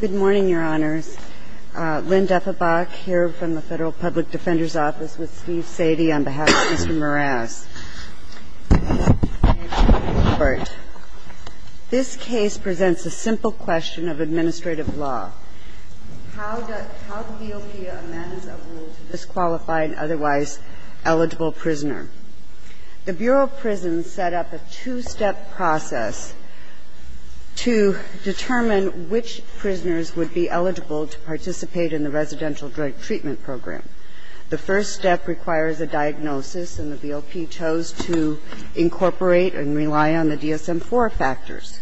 Good morning, Your Honors. Lynn Deppenbach here from the Federal Public Defender's Office with Steve Sadie on behalf of Mr. Moraz. This case presents a simple question of administrative law. How does the OPA amend a rule to disqualify an otherwise eligible prisoner? The Bureau of Prisons set up a two-step process to determine which prisoners would be eligible to participate in the residential drug treatment program. The first step requires a diagnosis, and the BOP chose to incorporate and rely on the DSM-IV factors.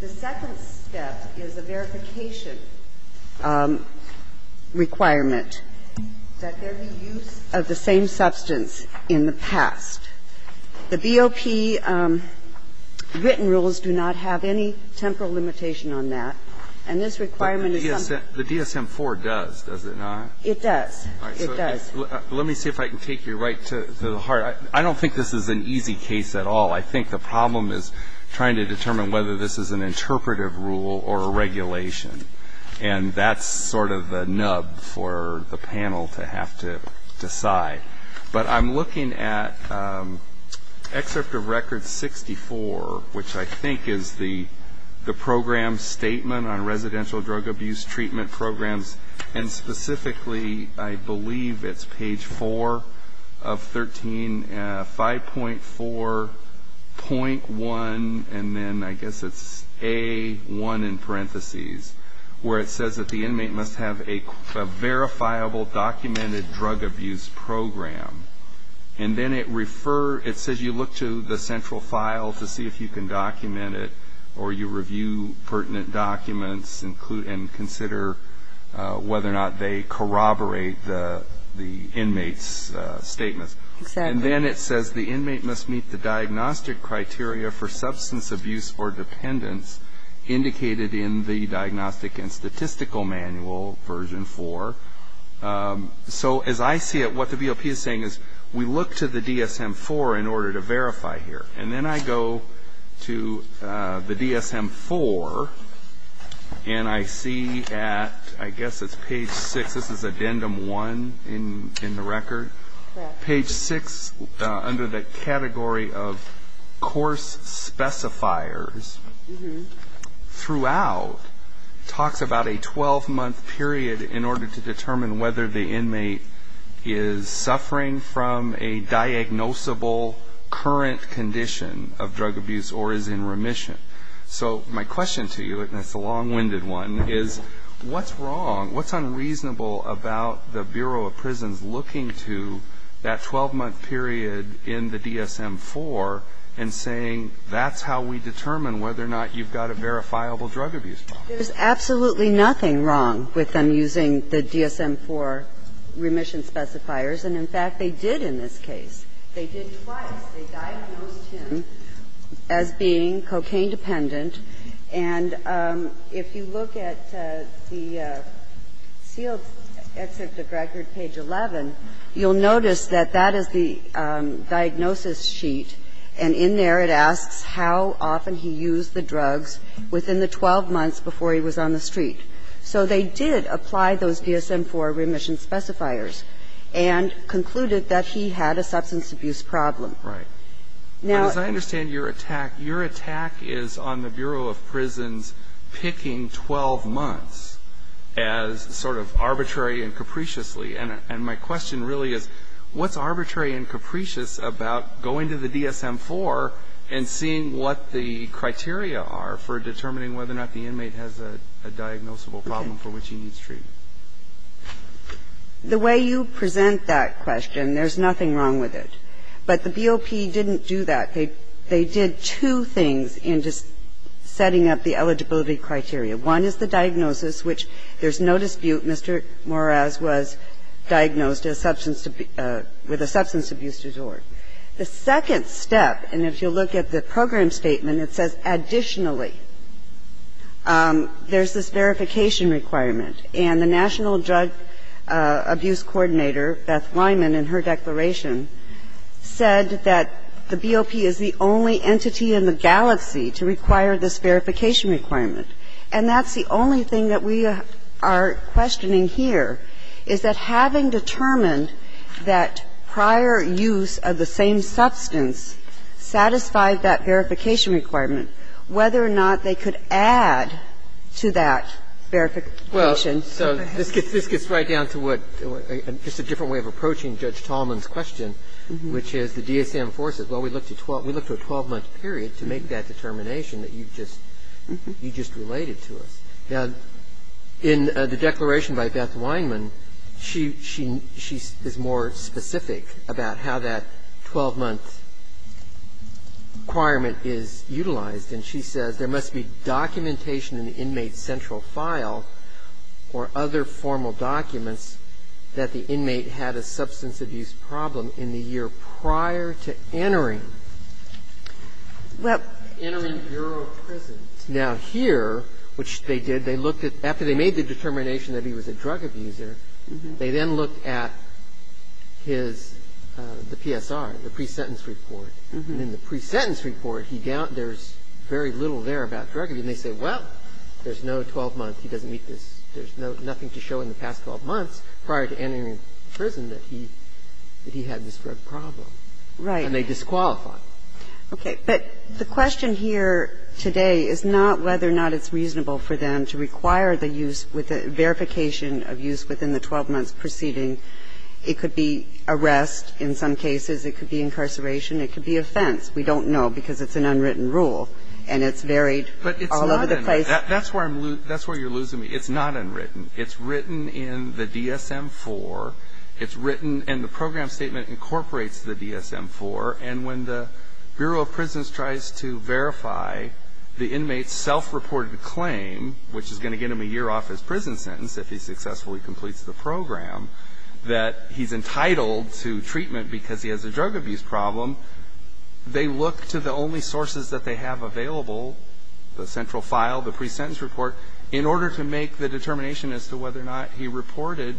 The second step is a verification requirement that there be use of the same substance in the past. The BOP written rules do not have any temporal limitation on that, and this requirement is something that the DSM-IV does, does it not? It does. It does. Let me see if I can take you right to the heart. I don't think this is an easy case at all. I think the problem is trying to determine whether this is an interpretive rule or a regulation. And that's sort of the nub for the panel to have to decide. But I'm looking at excerpt of Record 64, which I think is the program statement on residential drug abuse treatment programs, and specifically I believe it's page 4 of 13, 5.4.1, and then I guess it's A1 in parentheses, where it says that the program, and then it says you look to the central file to see if you can document it, or you review pertinent documents, and consider whether or not they corroborate the inmate's statements. And then it says the inmate must meet the diagnostic criteria for substance abuse or dependence indicated in the Diagnostic and Statistical Manual, version 4. So as I see it, what the BOP is saying is we look to the DSM-4 in order to verify here. And then I go to the DSM-4, and I see at, I guess it's page 6, this is addendum 1 in the record. Page 6, under the category of course specifiers, throughout talks about a 12-month period in order to determine whether the inmate is suffering from a diagnosable current condition of drug abuse or is in remission. So my question to you, and it's a long-winded one, is what's wrong, what's unreasonable about the Bureau of Prisons looking to that 12-month period in the DSM-4 and saying that's how we determine whether or not you've got a verifiable drug abuse problem? There's absolutely nothing wrong with them using the DSM-4 remission specifiers. And in fact, they did in this case. They did twice. They diagnosed him as being cocaine-dependent. And if you look at the sealed excerpt of record, page 11, you'll notice that that is the diagnosis sheet, and in there it asks how often he used the drugs within the 12 months before he was on the street. So they did apply those DSM-4 remission specifiers and concluded that he had a substance abuse problem. Right. Now as I understand your attack, your attack is on the Bureau of Prisons picking 12 months as sort of arbitrary and capriciously, and my question really is, what's arbitrary and capricious about going to the DSM-4 and seeing what the criteria are for determining whether or not the inmate has a diagnosable problem for which he needs treatment? The way you present that question, there's nothing wrong with it. But the BOP didn't do that. They did two things in just setting up the eligibility criteria. One is the diagnosis, which there's no dispute Mr. Moraes was diagnosed with a substance abuse disorder. The second step, and if you look at the program statement, it says additionally. There's this verification requirement. And the National Drug Abuse Coordinator, Beth Lyman, in her declaration, said that the BOP is the only entity in the galaxy to require this verification requirement. And that's the only thing that we are questioning here, is that having determined that prior use of the same substance satisfied that verification requirement, whether or not they could add to that verification. So this gets right down to what just a different way of approaching Judge Tallman's question, which is the DSM-4 says, well, we look to a 12-month period to make that determination that you just related to us. Now, in the declaration by Beth Lyman, she is more specific about how that 12-month requirement is utilized. And she says there must be documentation in the inmate's central file or other formal documents that the inmate had a substance abuse problem in the year prior to entering. Now, here, which they did, they looked at the determination that he was a drug abuser. They then looked at his PSR, the pre-sentence report. And in the pre-sentence report, there's very little there about drug abuse. And they say, well, there's no 12 months. He doesn't meet this. There's nothing to show in the past 12 months prior to entering prison that he had this drug problem. And they disqualify him. Okay. But the question here today is not whether or not it's reasonable for them to require the use with the verification of use within the 12 months preceding. It could be arrest in some cases. It could be incarceration. It could be offense. We don't know because it's an unwritten rule. And it's varied all over the place. That's where you're losing me. It's not unwritten. It's written in the DSM-IV. It's written in the program statement incorporates the DSM-IV. And when the Bureau of Prisons tries to verify the inmate's self-reported claim, which is going to get him a year off his prison sentence if he successfully completes the program, that he's entitled to treatment because he has a drug abuse problem, they look to the only sources that they have available, the central file, the pre-sentence report, in order to make the determination as to whether or not he reported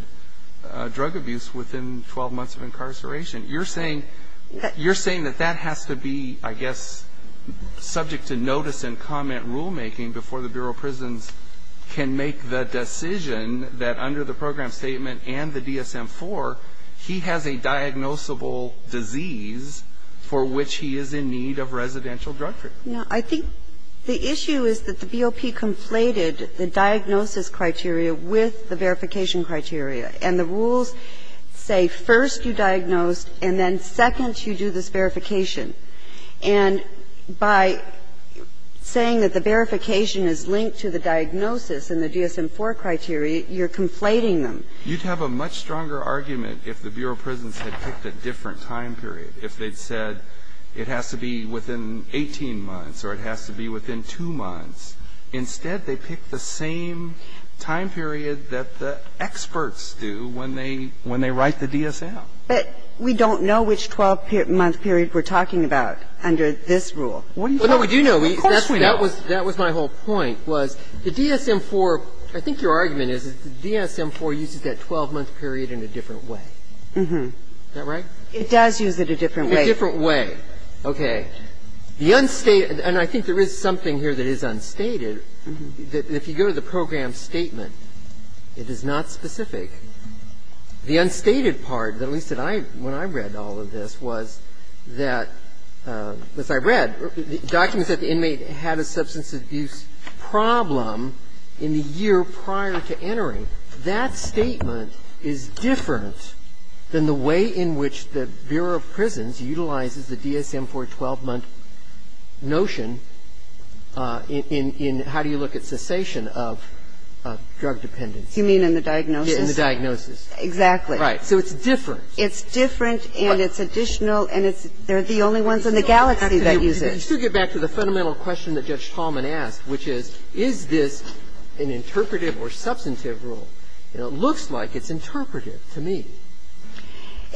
drug abuse within 12 months of incarceration. You're saying that that has to be, I guess, subject to notice and comment rulemaking before the Bureau of Prisons can make the decision that under the program statement and the DSM-IV, he has a diagnosable disease for which he is in need of residential drug treatment. No. I think the issue is that the BOP conflated the diagnosis criteria with the verification criteria. And the rules say first you diagnose and then second you do this verification. And by saying that the verification is linked to the diagnosis in the DSM-IV criteria, you're conflating them. You'd have a much stronger argument if the Bureau of Prisons had picked a different time period, if they'd said it has to be within 18 months or it has to be within 2 months. Instead, they picked the same time period that the experts do when they write the DSM. But we don't know which 12-month period we're talking about under this rule. Wouldn't you? Of course we know. That was my whole point, was the DSM-IV, I think your argument is that the DSM-IV uses that 12-month period in a different way. Is that right? It does use it a different way. A different way. Okay. The unstated, and I think there is something here that is unstated, that if you go to the program statement, it is not specific. The unstated part, at least when I read all of this, was that, as I read, documents that the inmate had a substance abuse problem in the year prior to entering. That statement is different than the way in which the Bureau of Prisons utilizes the DSM-IV 12-month notion in how do you look at cessation of drug dependence. You mean in the diagnosis? In the diagnosis. Exactly. Right. So it's different. It's different and it's additional and it's the only ones in the galaxy that use it. You still get back to the fundamental question that Judge Tallman asked, which is, is this an interpretive or substantive rule? And it looks like it's interpretive to me.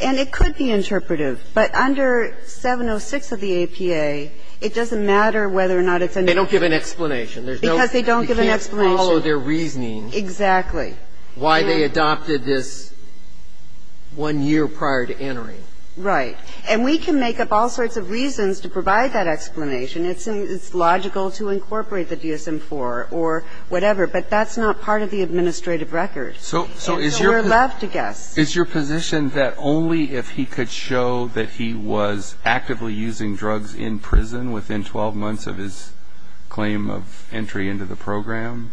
And it could be interpretive, but under 706 of the APA, it doesn't matter whether or not it's an interpretive. They don't give an explanation. Because they don't give an explanation. You can't follow their reasoning. Exactly. Why they adopted this one year prior to entering. Right. And we can make up all sorts of reasons to provide that explanation. It's logical to incorporate the DSM-IV or whatever, but that's not part of the administrative record. So we're left to guess. Is your position that only if he could show that he was actively using drugs in prison within 12 months of his claim of entry into the program,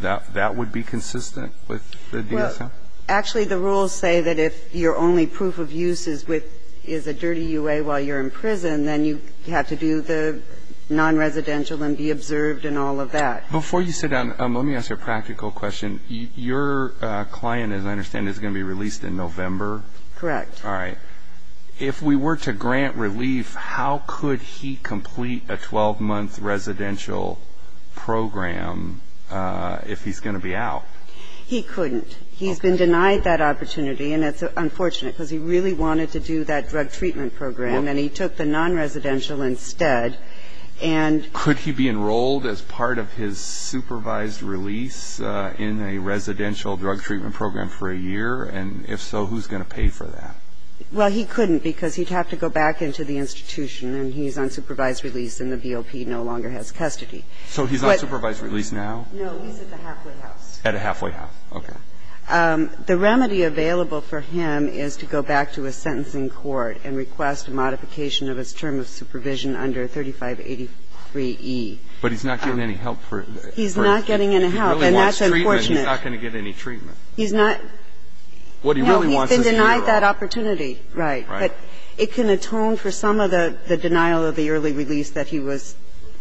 that that would be consistent? Well, actually, the rules say that if your only proof of use is a dirty UA while you're in prison, then you have to do the non-residential and be observed and all of that. Before you sit down, let me ask you a practical question. Your client, as I understand, is going to be released in November? Correct. All right. If we were to grant relief, how could he complete a 12-month residential program if he's going to be out? He couldn't. He's been denied that opportunity, and it's unfortunate because he really wanted to do that drug treatment program, and he took the non-residential instead. Could he be enrolled as part of his supervised release in a residential drug treatment program for a year? And if so, who's going to pay for that? Well, he couldn't because he'd have to go back into the institution, and he's on supervised release, and the BOP no longer has custody. So he's on supervised release now? No, he's at the halfway house. At a halfway house. Okay. The remedy available for him is to go back to a sentencing court and request a modification of his term of supervision under 3583E. But he's not getting any help for it? He's not getting any help, and that's unfortunate. If he really wants treatment, he's not going to get any treatment. He's not. What he really wants is to get a drug. No, he's been denied that opportunity. Right. Right. But it can atone for some of the denial of the early release that he was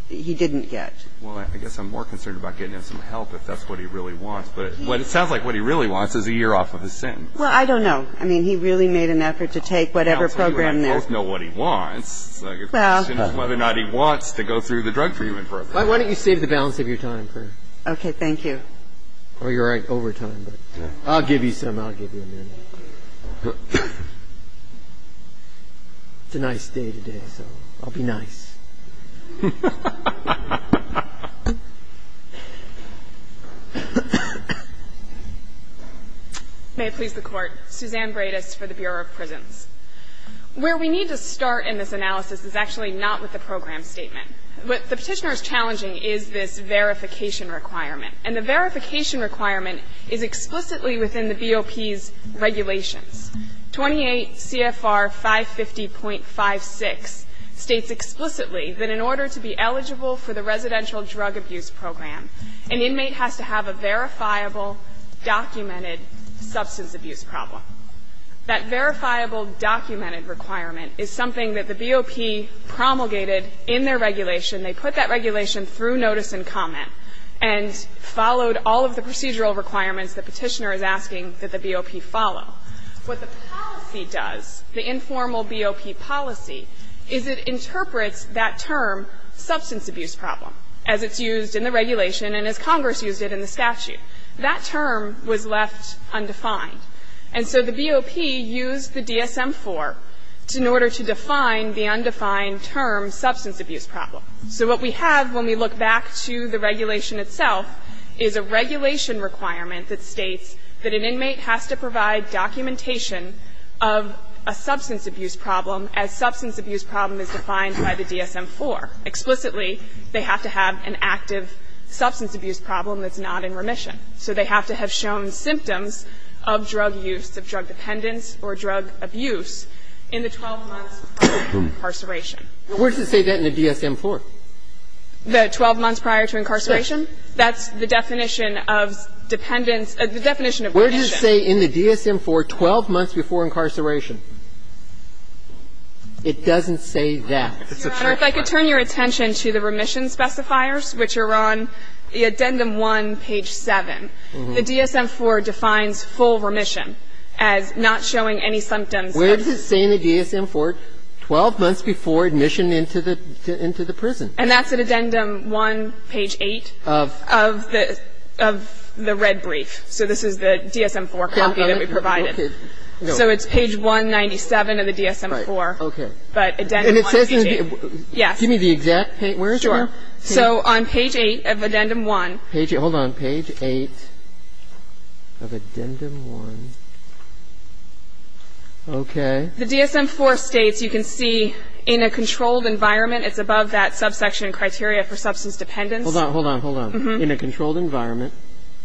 he didn't get. Well, I guess I'm more concerned about getting him some help if that's what he really wants. But it sounds like what he really wants is a year off of his sentence. Well, I don't know. I mean, he really made an effort to take whatever program there. Well, I mean, we both know what he wants. It's a question of whether or not he wants to go through the drug treatment program. Why don't you save the balance of your time for... Okay. Thank you. Oh, you're right. Overtime. But I'll give you some. I'll give you a minute. It's a nice day today, so I'll be nice. May it please the Court. Suzanne Bredis for the Bureau of Prisons. Where we need to start in this analysis is actually not with the program statement. What the Petitioner is challenging is this verification requirement. And the verification requirement is explicitly within the BOP's regulations. 28 CFR 550.56 states explicitly that in order to be eligible for the residential drug abuse program, an inmate has to have a verifiable documented substance abuse problem. That verifiable documented requirement is something that the BOP promulgated in their regulation. They put that regulation through notice and comment and followed all of the procedural requirements the Petitioner is asking that the BOP follow. What the policy does, the informal BOP policy, is it interprets that term, substance abuse problem, as it's used in the regulation and as Congress used it in the statute. That term was left undefined. And so the BOP used the DSM-IV in order to define the undefined term, substance abuse problem. So what we have when we look back to the regulation itself is a regulation requirement that states that an inmate has to provide documentation of a substance abuse problem as substance abuse problem is defined by the DSM-IV. Explicitly, they have to have an active substance abuse problem that's not in remission. So they have to have shown symptoms of drug use, of drug dependence or drug abuse in the 12 months prior to incarceration. Where does it say that in the DSM-IV? The 12 months prior to incarceration? That's the definition of dependence or the definition of remission. Where does it say in the DSM-IV, 12 months before incarceration? It doesn't say that. Your Honor, if I could turn your attention to the remission specifiers, which are on the Addendum 1, page 7. The DSM-IV defines full remission as not showing any symptoms of drug use. Where does it say in the DSM-IV, 12 months before admission into the prison? And that's at Addendum 1, page 8 of the red brief. So this is the DSM-IV copy that we provided. So it's page 197 of the DSM-IV. Right. Okay. But Addendum 1, page 8. Yes. Give me the exact page. Where is it? Sure. So on page 8 of Addendum 1. Hold on. Page 8 of Addendum 1. Okay. The DSM-IV states, you can see, in a controlled environment. It's above that subsection criteria for substance dependence. Hold on. Hold on. Hold on. In a controlled environment.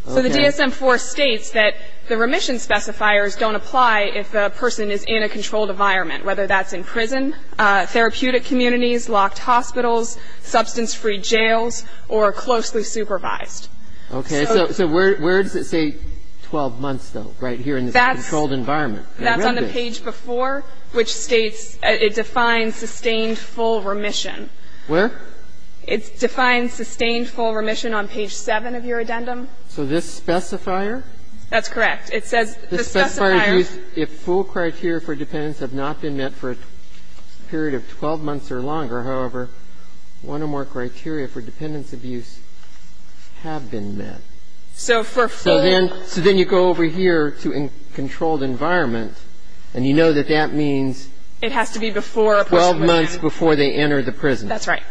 So the DSM-IV states that the remission specifiers don't apply if a person is in a controlled environment, whether that's in prison, therapeutic communities, locked hospitals, substance-free jails, or closely supervised. Okay. So where does it say 12 months, though, right here in the controlled environment? That's on the page before, which states it defines sustained full remission. Where? It defines sustained full remission on page 7 of your addendum. So this specifier? That's correct. It says the specifier. If full criteria for dependence have not been met for a period of 12 months or longer, however, one or more criteria for dependence abuse have been met. So for full? So then you go over here to in controlled environment, and you know that that means 12 months before they enter the prison. That's right.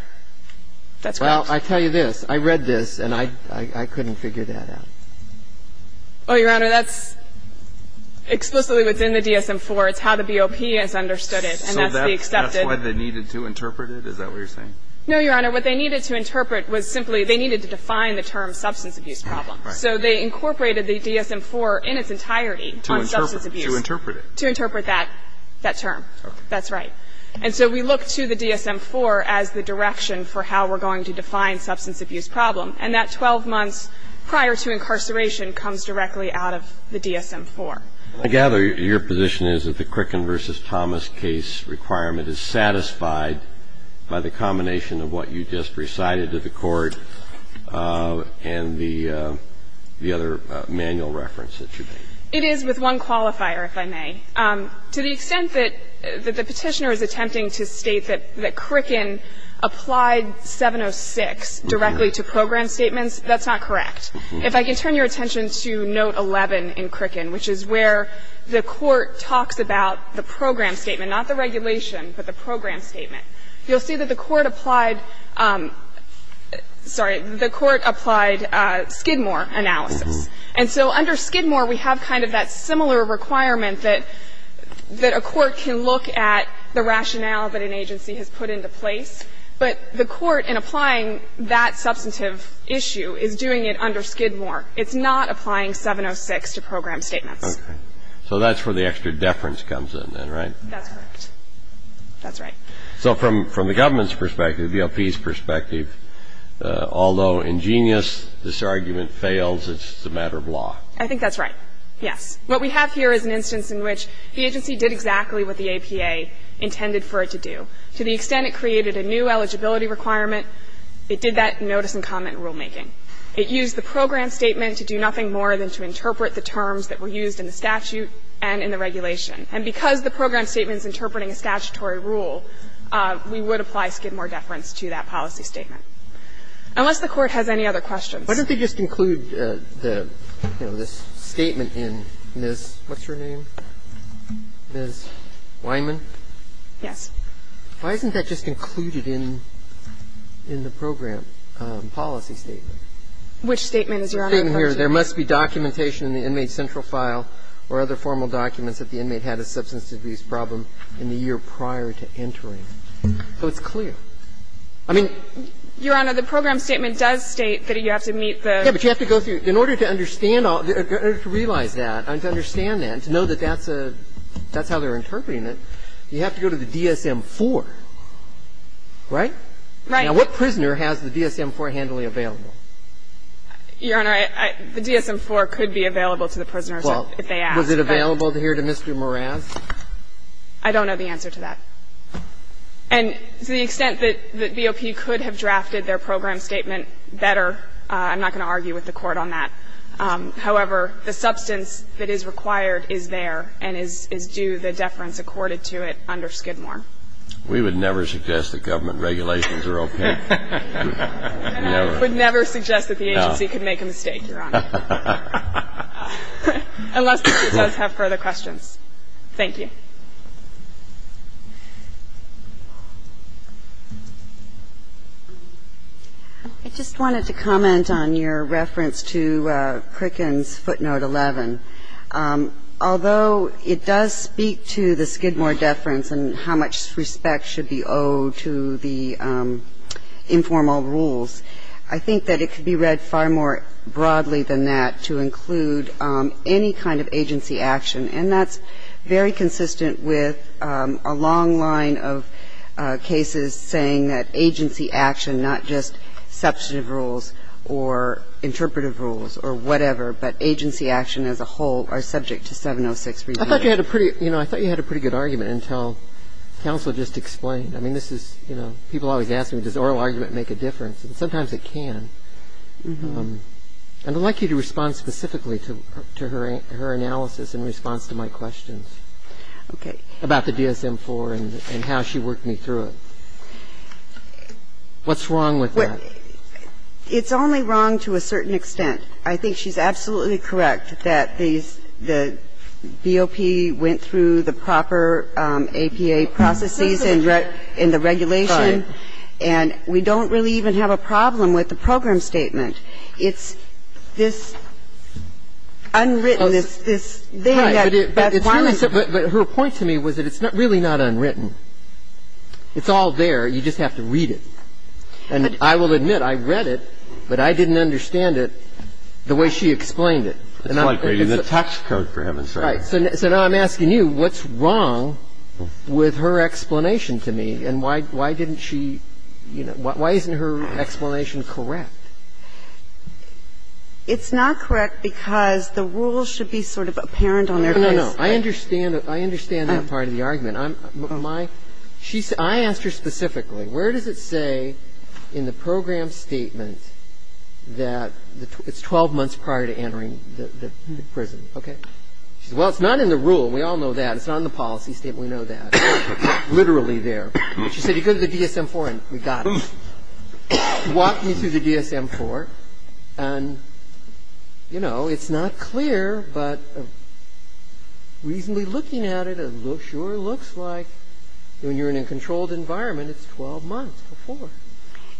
That's correct. Well, I tell you this. I read this, and I couldn't figure that out. Well, Your Honor, that's explicitly what's in the DSM-IV. It's how the BOP has understood it, and that's the accepted. So that's why they needed to interpret it? Is that what you're saying? No, Your Honor. What they needed to interpret was simply they needed to define the term substance abuse problem. Right. So they incorporated the DSM-IV in its entirety on substance abuse. To interpret it. To interpret that term. Okay. That's right. And so we look to the DSM-IV as the direction for how we're going to define substance abuse problem. And that 12 months prior to incarceration comes directly out of the DSM-IV. I gather your position is that the Crickin v. Thomas case requirement is satisfied by the combination of what you just recited to the Court and the other manual reference that you made. It is with one qualifier, if I may. To the extent that the Petitioner is attempting to state that Crickin applied 706 directly to program statements, that's not correct. If I can turn your attention to Note 11 in Crickin, which is where the Court talks about the program statement, not the regulation, but the program statement, you'll see that the Court applied ‑‑ sorry, the Court applied Skidmore analysis. And so under Skidmore, we have kind of that similar requirement that a court can look at the rationale that an agency has put into place. But the Court, in applying that substantive issue, is doing it under Skidmore. It's not applying 706 to program statements. Okay. So that's where the extra deference comes in then, right? That's correct. That's right. So from the government's perspective, the LP's perspective, although ingenious, this argument fails. It's a matter of law. I think that's right. Yes. What we have here is an instance in which the agency did exactly what the APA intended for it to do. To the extent it created a new eligibility requirement, it did that notice and comment rulemaking. It used the program statement to do nothing more than to interpret the terms that were used in the statute and in the regulation. And because the program statement is interpreting a statutory rule, we would apply Skidmore deference to that policy statement. Unless the Court has any other questions. Why don't they just include the, you know, this statement in Ms. ‑‑ what's her name? Ms. Weinman? Yes. Why isn't that just included in the program policy statement? Which statement is Your Honor referring to? There must be documentation in the inmate central file or other formal documents that the inmate had a substance abuse problem in the year prior to entering. So it's clear. I mean ‑‑ Your Honor, the program statement does state that you have to meet the ‑‑ Yes, but you have to go through. In order to understand all ‑‑ in order to realize that, to understand that, to know that that's a ‑‑ that's how they're interpreting it, you have to go to the DSM-IV. Right? Right. Now, what prisoner has the DSM-IV handily available? Your Honor, I ‑‑ the DSM-IV could be available to the prisoners if they ask. Was it available here to Mr. Meraz? I don't know the answer to that. And to the extent that the BOP could have drafted their program statement better, I'm not going to argue with the Court on that. However, the substance that is required is there and is due the deference accorded to it under Skidmore. We would never suggest that government regulations are okay. I would never suggest that the agency could make a mistake, Your Honor. Unless the Court does have further questions. Thank you. I just wanted to comment on your reference to Crickin's footnote 11. Although it does speak to the Skidmore deference and how much respect should be owed to the informal rules, I think that it could be read far more broadly than that to include any kind of agency action. And that's very consistent with a long line of cases saying that agency action, not just substantive rules or interpretive rules or whatever, but agency action as a whole are subject to 706 review. I thought you had a pretty good argument until counsel just explained. I mean, this is, you know, people always ask me, does oral argument make a difference? And sometimes it can. And I'd like you to respond specifically to her analysis in response to my questions. Okay. About the DSM-IV and how she worked me through it. What's wrong with that? It's only wrong to a certain extent. I think she's absolutely correct that the BOP went through the proper APA processes in the regulation. And we don't really even have a problem with the program statement. It's this unwritten, this thing that Beth Warren said. But her point to me was that it's really not unwritten. It's all there. You just have to read it. And I will admit, I read it, but I didn't understand it the way she explained it. It's like reading the tax code for heaven's sake. Right. So now I'm asking you, what's wrong with her explanation to me? And why didn't she, you know, why isn't her explanation correct? It's not correct because the rules should be sort of apparent on their face. No, no, no. I understand that part of the argument. I'm my – she's – I asked her specifically, where does it say in the program statement that it's 12 months prior to entering the prison, okay? She said, well, it's not in the rule. We all know that. It's not in the policy statement. We know that. It's literally there. She said, you go to the DSM-IV and we got it. Walked me through the DSM-IV, and, you know, it's not clear, but reasonably looking at it, it sure looks like when you're in a controlled environment, it's 12 months before.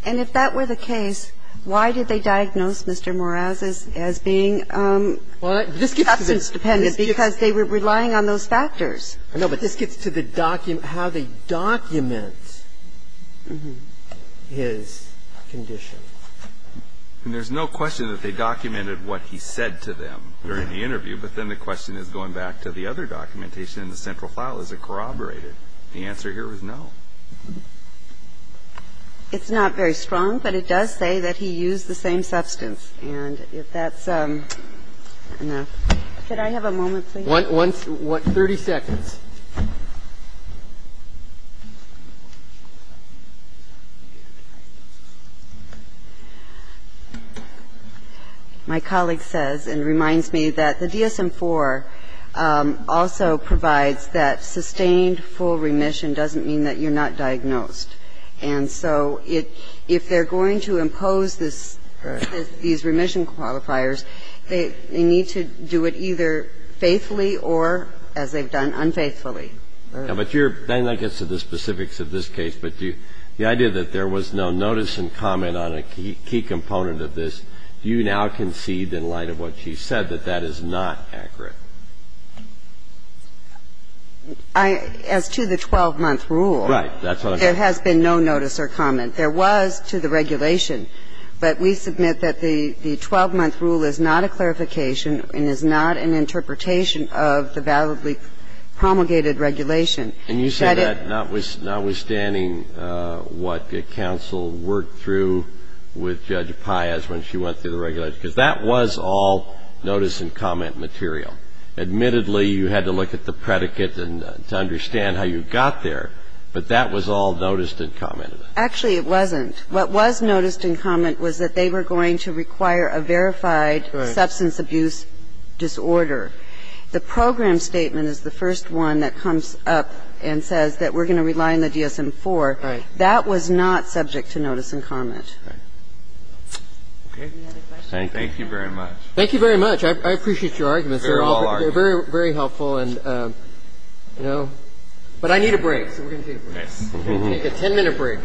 And if that were the case, why did they diagnose Mr. Morales as being substance dependent? Because they were relying on those factors. I know, but this gets to the document – how they document his condition. And there's no question that they documented what he said to them during the interview, but then the question is, going back to the other documentation in the central file, is it corroborated? The answer here is no. It's not very strong, but it does say that he used the same substance. And if that's enough – could I have a moment, please? One – 30 seconds. My colleague says and reminds me that the DSM-IV also provides that sustained full remission doesn't mean that you're not diagnosed. And so if they're going to impose these remission qualifiers, they need to do it either faithfully or, as they've done, unfaithfully. But you're – that gets to the specifics of this case. But the idea that there was no notice and comment on a key component of this, you now concede in light of what she said that that is not accurate. As to the 12-month rule, there has been no notice or comment. There was to the regulation, but we submit that the 12-month rule is not a clarification and is not an interpretation of the validly promulgated regulation. And you said that notwithstanding what counsel worked through with Judge Paias when she went through the regulation, because that was all notice and comment material. Admittedly, you had to look at the predicate to understand how you got there, but that was all notice and comment. Actually, it wasn't. What was notice and comment was that they were going to require a verified substance abuse disorder. The program statement is the first one that comes up and says that we're going to rely on the DSM-IV. That was not subject to notice and comment. Thank you very much. Thank you very much. I appreciate your arguments. They're all very helpful. But I need a break. So we're going to take a 10-minute break.